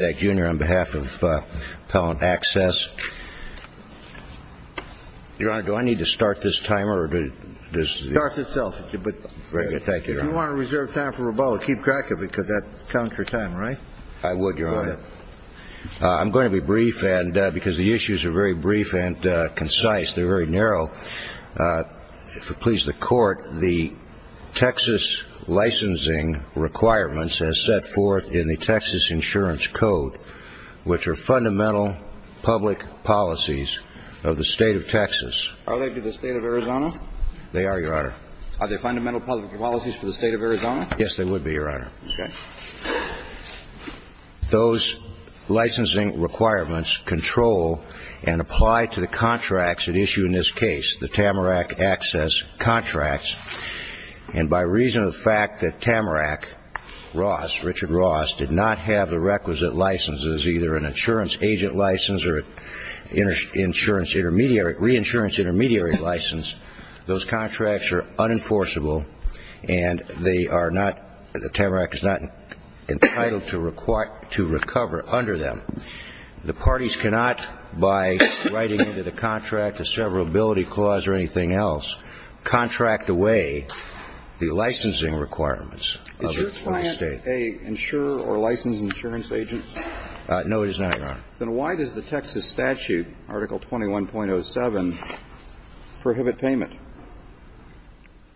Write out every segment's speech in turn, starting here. on behalf of Appellant Access. Your Honor, do I need to start this timer? Start itself. If you want to reserve time for rebuttal, keep track of it because that counts for time, right? I would, Your Honor. Go ahead. I'm going to be brief because the issues are very brief and concise. They're very narrow. If it pleases the Court, the Texas licensing requirements as set forth in the Texas Insurance Code, which are fundamental public policies of the State of Texas. Are they to the State of Arizona? They are, Your Honor. Are they fundamental public policies for the State of Arizona? Yes, they would be, Your Honor. Okay. Those licensing requirements control and apply to the contracts at issue in this case, the Tamarack Access contracts. And by reason of the fact that Tamarack, Ross, Richard Ross, did not have the requisite licenses, either an insurance agent license or an insurance intermediary, reinsurance intermediary license, those contracts are unenforceable and they are not, Tamarack is not entitled to recover under them. The parties cannot, by writing into the contract a severability clause or anything else, contract away the licensing requirements of the State. Is your client an insurer or licensed insurance agent? No, it is not, Your Honor. Then why does the Texas statute, Article 21.07, prohibit payment?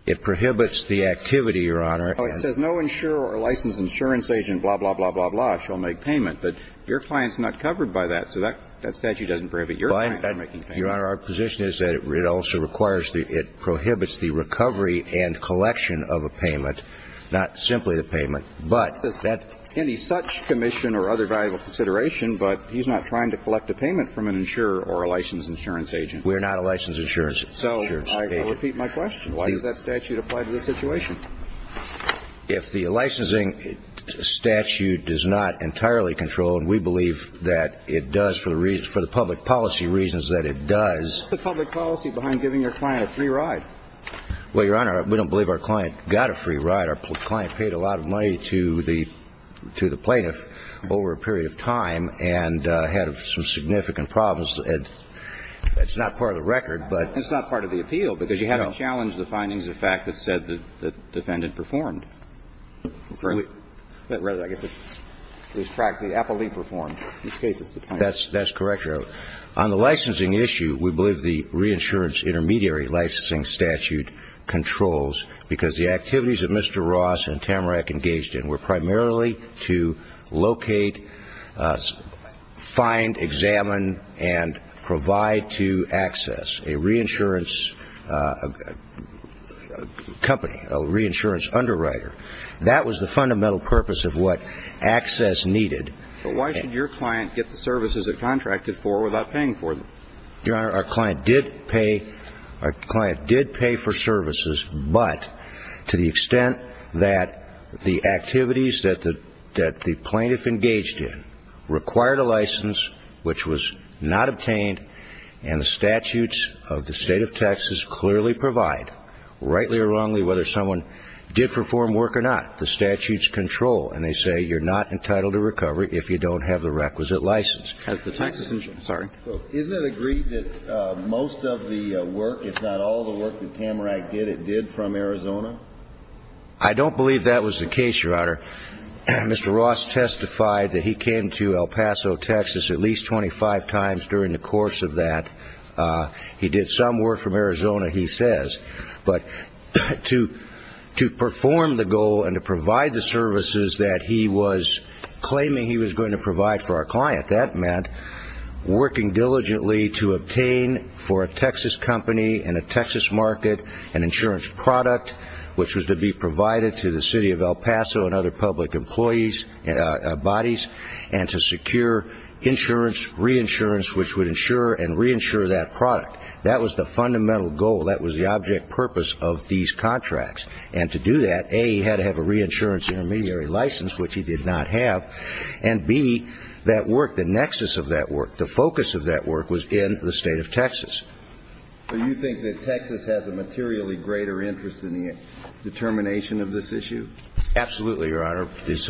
It prohibits the activity, Your Honor. Oh, it says no insurer or licensed insurance agent blah, blah, blah, blah, blah shall make payment. But your client's not covered by that, so that statute doesn't prohibit your client from making payment. Your Honor, our position is that it also requires the, it prohibits the recovery and collection of a payment, not simply the payment, but that. Any such commission or other valuable consideration, but he's not trying to collect a payment from an insurer or a licensed insurance agent. We're not a licensed insurance agent. So I repeat my question. Why does that statute apply to this situation? If the licensing statute does not entirely control, and we believe that it does for the public policy reasons that it does. What's the public policy behind giving your client a free ride? Well, Your Honor, we don't believe our client got a free ride. Our client paid a lot of money to the plaintiff over a period of time and had some significant problems. It's not part of the record, but. It's not part of the appeal, because you have to challenge the findings of fact that said the defendant performed. Correct? Rather, I guess it's the fact the appellee performed. In this case, it's the plaintiff. That's correct, Your Honor. On the licensing issue, we believe the reinsurance intermediary licensing statute controls, because the activities that Mr. Ross and Tamarack engaged in were primarily to locate, find, examine, and provide to Access, a reinsurance company, a reinsurance underwriter. That was the fundamental purpose of what Access needed. But why should your client get the services it contracted for without paying for them? Your Honor, our client did pay. Our client did pay for services, but to the extent that the activities that the plaintiff engaged in required a license, which was not obtained, and the statutes of the State of Texas clearly provide, rightly or wrongly, whether someone did perform work or not, the statutes control. And they say you're not entitled to recovery if you don't have the requisite license. As the Texas, I'm sorry. Isn't it agreed that most of the work, if not all the work that Tamarack did, it did from Arizona? I don't believe that was the case, Your Honor. Mr. Ross testified that he came to El Paso, Texas at least 25 times during the course of that. He did some work from Arizona, he says. But to perform the goal and to provide the services that he was claiming he was going to provide for our client, that meant working diligently to obtain for a Texas company and a Texas market an insurance product, which was to be provided to the City of El Paso and other public employees, bodies, and to secure insurance, reinsurance, which would insure and reinsure that product. That was the fundamental goal. That was the object purpose of these contracts. And to do that, A, he had to have a reinsurance intermediary license, which he did not have, and, B, that work, the nexus of that work, the focus of that work was in the State of Texas. So you think that Texas has a materially greater interest in the determination of this issue? Absolutely, Your Honor. It's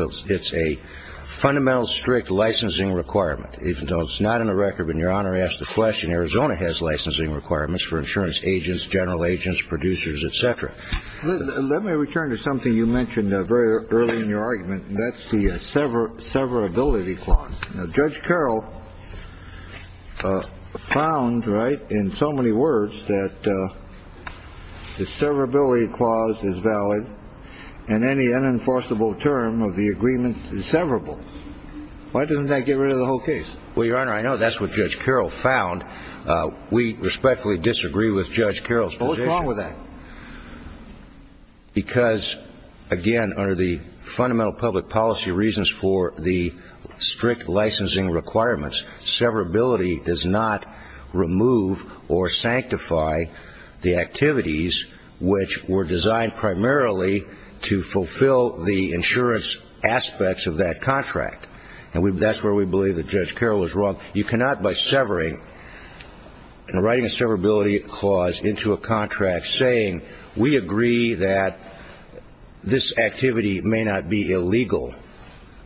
a fundamental strict licensing requirement. Even though it's not in the record, when Your Honor asks the question, Arizona has licensing requirements for insurance agents, general agents, producers, et cetera. Let me return to something you mentioned very early in your argument, and that's the severability clause. Now, Judge Carroll found, right, in so many words that the severability clause is valid, and any unenforceable term of the agreement is severable. Why doesn't that get rid of the whole case? Well, Your Honor, I know that's what Judge Carroll found. We respectfully disagree with Judge Carroll's position. What's wrong with that? Because, again, under the fundamental public policy reasons for the strict licensing requirements, severability does not remove or sanctify the activities which were designed primarily to fulfill the insurance aspects of that contract. And that's where we believe that Judge Carroll was wrong. You cannot, by severing and writing a severability clause into a contract saying, we agree that this activity may not be illegal.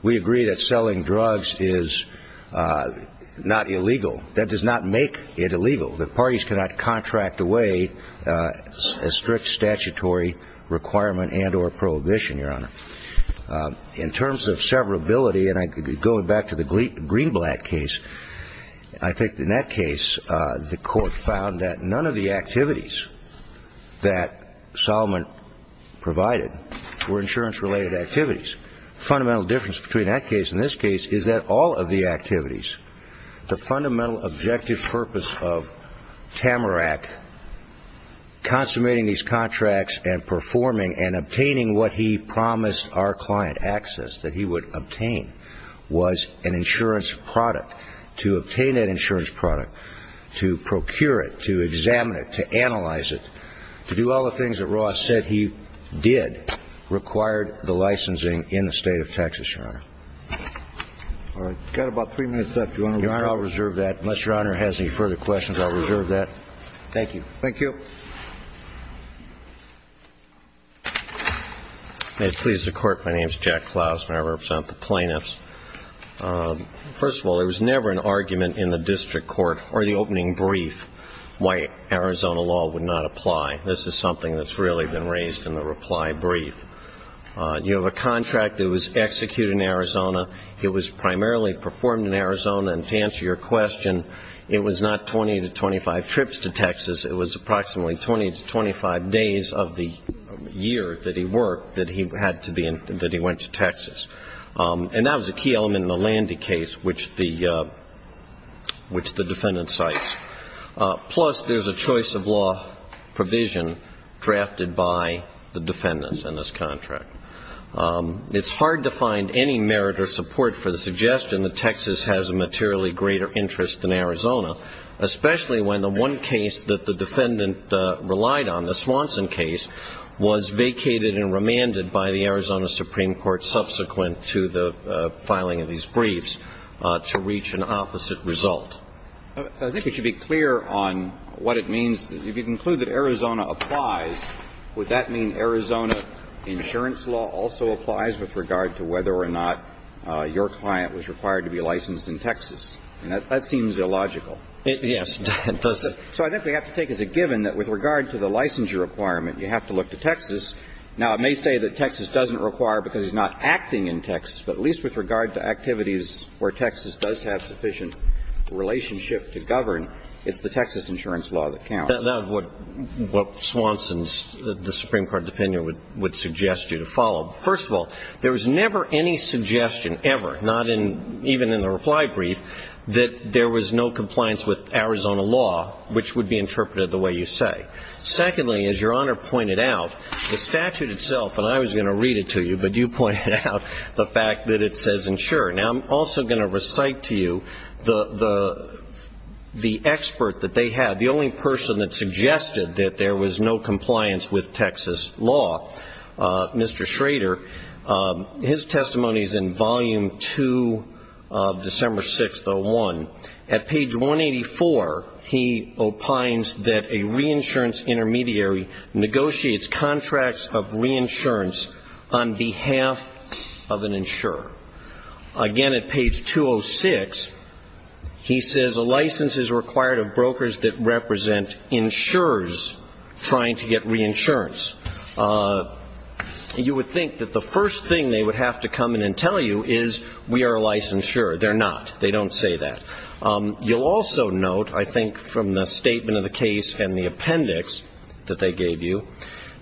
We agree that selling drugs is not illegal. That does not make it illegal. The parties cannot contract away a strict statutory requirement and or prohibition, Your Honor. In terms of severability, and going back to the Greenblatt case, I think in that case the court found that none of the activities that Solomon provided were insurance-related activities. Fundamental difference between that case and this case is that all of the activities, the fundamental objective purpose of Tamarack consummating these contracts and performing and obtaining what he promised our client access, that he would obtain, was an insurance product. To obtain an insurance product, to procure it, to examine it, to analyze it, to do all the things that Ross said he did required the licensing in the State of Texas, Your Honor. All right. We've got about three minutes left, Your Honor. Your Honor, I'll reserve that. Unless Your Honor has any further questions, I'll reserve that. Thank you. Thank you. May it please the Court, my name is Jack Klaus and I represent the plaintiffs. First of all, there was never an argument in the district court or the opening brief why Arizona law would not apply. This is something that's really been raised in the reply brief. You have a contract that was executed in Arizona. It was primarily performed in Arizona. And to answer your question, it was not 20 to 25 trips to Texas. It was approximately 20 to 25 days of the year that he worked that he had to be in, that he went to Texas. And that was a key element in the Landy case, which the defendant cites. Plus, there's a choice of law provision drafted by the defendants in this contract. It's hard to find any merit or support for the suggestion that Texas has a materially greater interest in Arizona, especially when the one case that the defendant relied on, the Swanson case, was vacated and remanded by the Arizona Supreme Court subsequent to the filing of these briefs to reach an opposite result. I think it should be clear on what it means. If you conclude that Arizona applies, would that mean Arizona insurance law also applies with regard to whether or not your client was physiological? Yes, it does. So I think we have to take as a given that with regard to the licensure requirement, you have to look to Texas. Now, it may say that Texas doesn't require because he's not acting in Texas, but at least with regard to activities where Texas does have sufficient relationship to govern, it's the Texas insurance law that counts. That's what Swanson's, the Supreme Court opinion would suggest you to follow. First of all, there was never any suggestion ever, not even in the reply brief, that there was no compliance with Arizona law, which would be interpreted the way you say. Secondly, as Your Honor pointed out, the statute itself, and I was going to read it to you, but you pointed out the fact that it says insure. Now, I'm also going to recite to you the expert that they had, the only person that suggested that there was no compliance with Texas law, Mr. Schrader. His testimony is in volume 2 of December 6th, 2001. At page 184, he opines that a reinsurance intermediary negotiates contracts of reinsurance on behalf of an insurer. Again, at page 206, he says a license is required of brokers that represent insurers trying to get reinsurance. You would think that the first thing they would have to come in and tell you is we are a licensed insurer. They're not. They don't say that. You'll also note, I think, from the statement of the case and the appendix that they gave you,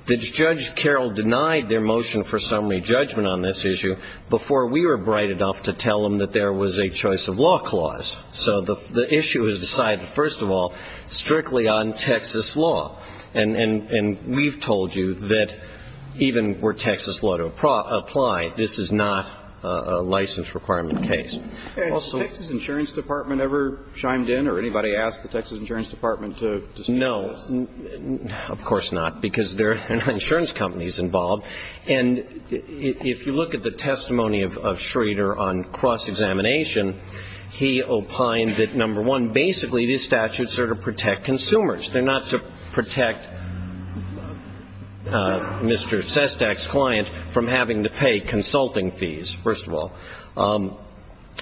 that Judge Carroll denied their motion for summary judgment on this issue before we were bright enough to tell them that there was a choice of law clause. So the issue is decided, first of all, strictly on Texas law. And we've told you that even were Texas law to apply, this is not a license requirement case. And has the Texas insurance department ever chimed in or anybody asked the Texas insurance department to speak to this? No. Of course not, because there are no insurance companies involved. And if you look at the testimony of Judge Carroll, basically these statutes are to protect consumers. They're not to protect Mr. Sestak's client from having to pay consulting fees, first of all.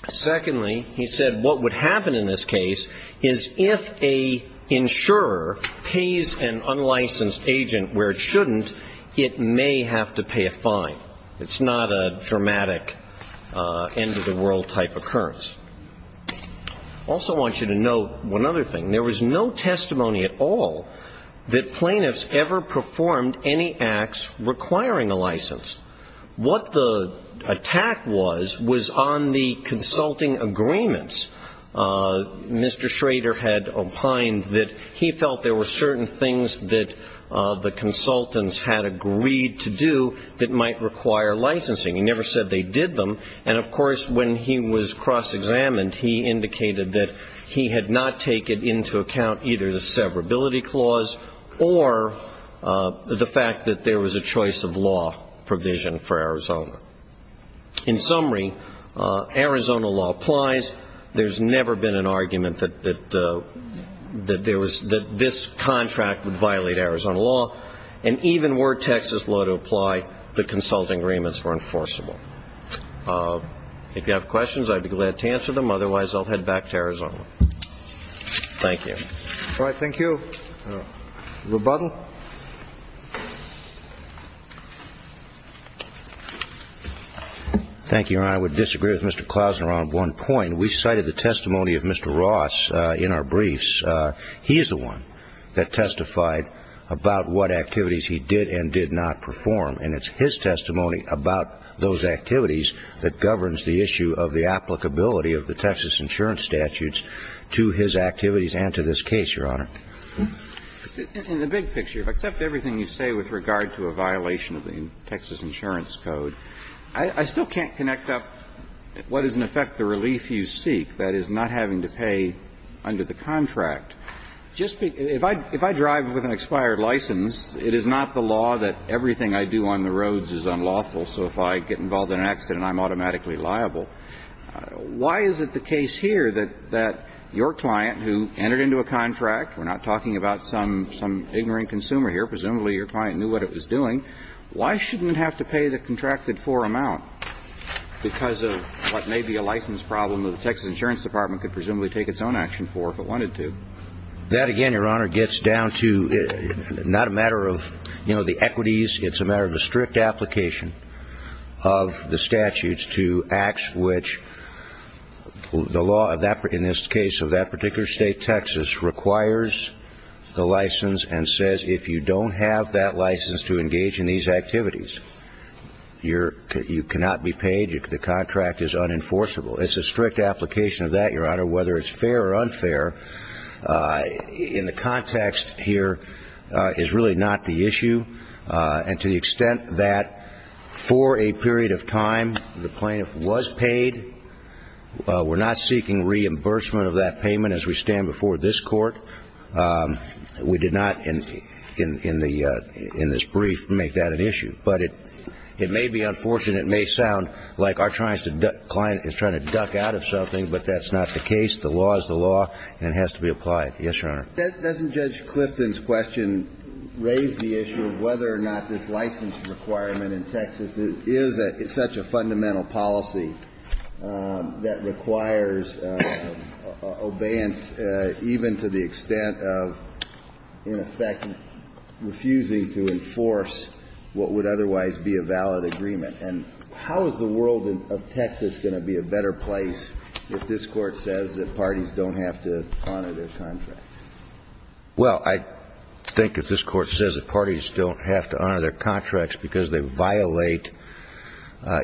Secondly, he said what would happen in this case is if an insurer pays an unlicensed agent where it shouldn't, it may have to pay a fine. It's not a dramatic end-of-the-world type occurrence. I also want you to note one other thing. There was no testimony at all that plaintiffs ever performed any acts requiring a license. What the attack was was on the consulting agreements. Mr. Schrader had opined that he felt there were certain things that the consultants had agreed to do that might require licensing. He never said they did them. And, of course, when he was cross-examined, he indicated that he had not taken into account either the severability clause or the fact that there was a choice of law provision for Arizona. In summary, Arizona law applies. There's never been an argument that this contract would violate Arizona law. And even were Texas law to apply, the consulting agreements were enforceable. If you have questions, I'd be glad to answer them. Otherwise, I'll head back to Arizona. Thank you. Thank you, Your Honor. I would disagree with Mr. Klausener on one point. We cited the testimony of Mr. Ross in our briefs. He is the one that testified about what activities he did and did not perform. And it's his testimony that Mr. Klausener is the one that testified about those activities that governs the issue of the applicability of the Texas insurance statutes to his activities and to this case, Your Honor. In the big picture, except everything you say with regard to a violation of the Texas insurance code, I still can't connect up what is, in effect, the relief you seek, that is, not having to pay under the contract. If I drive with an expired license, it is not the law that everything I do on the roads is unlawful. So if I get involved in an accident, I'm automatically liable. Why is it the case here that your client, who entered into a contract, we're not talking about some ignorant consumer here, presumably your client knew what it was doing, why shouldn't it have to pay the contracted for amount because of what may be a license problem that the Texas insurance department could presumably take its own action for if it wanted to? That, again, Your Honor, gets down to not a matter of, you know, the equities. It's a matter of a strict application of the statutes to acts which the law in this case of that particular state, Texas, requires the license and says if you don't have that license to engage in these activities, you cannot be paid, the contract is unenforceable. It's a strict application of that, Your Honor, whether it's fair or unfair. In the context here, it's really not the issue. And to the extent that for a period of time, the plaintiff was paid, we're not seeking reimbursement of that payment as we stand before this court. We did not in this brief make that an issue. But it may be unfortunate, it may sound like our client is trying to duck out of something, but that's not the case. The law is the law and it has to be applied. Yes, Your Honor. Doesn't Judge Clifton's question raise the issue of whether or not this license requirement in Texas is such a fundamental policy that requires obeyance even to the extent of, in effect, refusing to enforce what would otherwise be a valid agreement? And how is the world of Texas going to be a better place if this Court says that parties don't have to honor their contracts? Well, I think if this Court says that parties don't have to honor their contracts because they violate,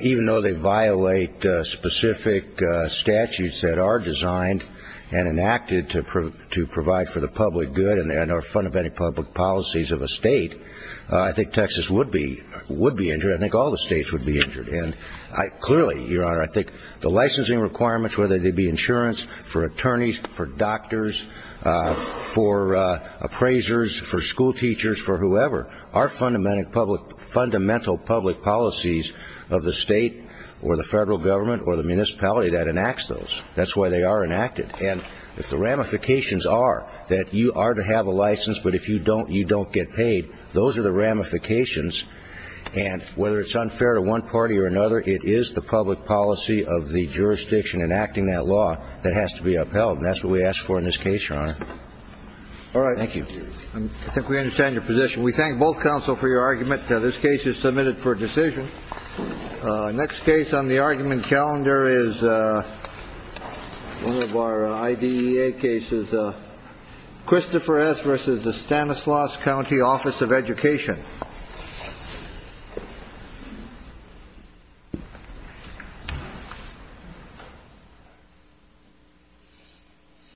even though they violate specific statutes that are designed and enacted to provide for the public good and are fundamental public policies of a state, I think Texas would be injured. I think all the states would be injured. And clearly, Your Honor, I think the licensing requirements, whether they be insurance for attorneys, for doctors, for appraisers, for schoolteachers, for whoever, are fundamental public policies of the state or the federal government or the municipality that enacts those. That's why they are enacted. And if the ramifications are that you are to have a license, but if you don't, you don't get paid, those are the ramifications. And whether it's unfair to one party or another, it is the public policy of the jurisdiction enacting that law that has to be upheld. And that's what we ask for in this case, Your Honor. All right. Thank you. I think we understand your position. We thank both counsel for your argument. This case is submitted for decision. Next case on the argument calendar is one of our IDEA cases. Christopher S. versus the Stanislaus County Office of Education.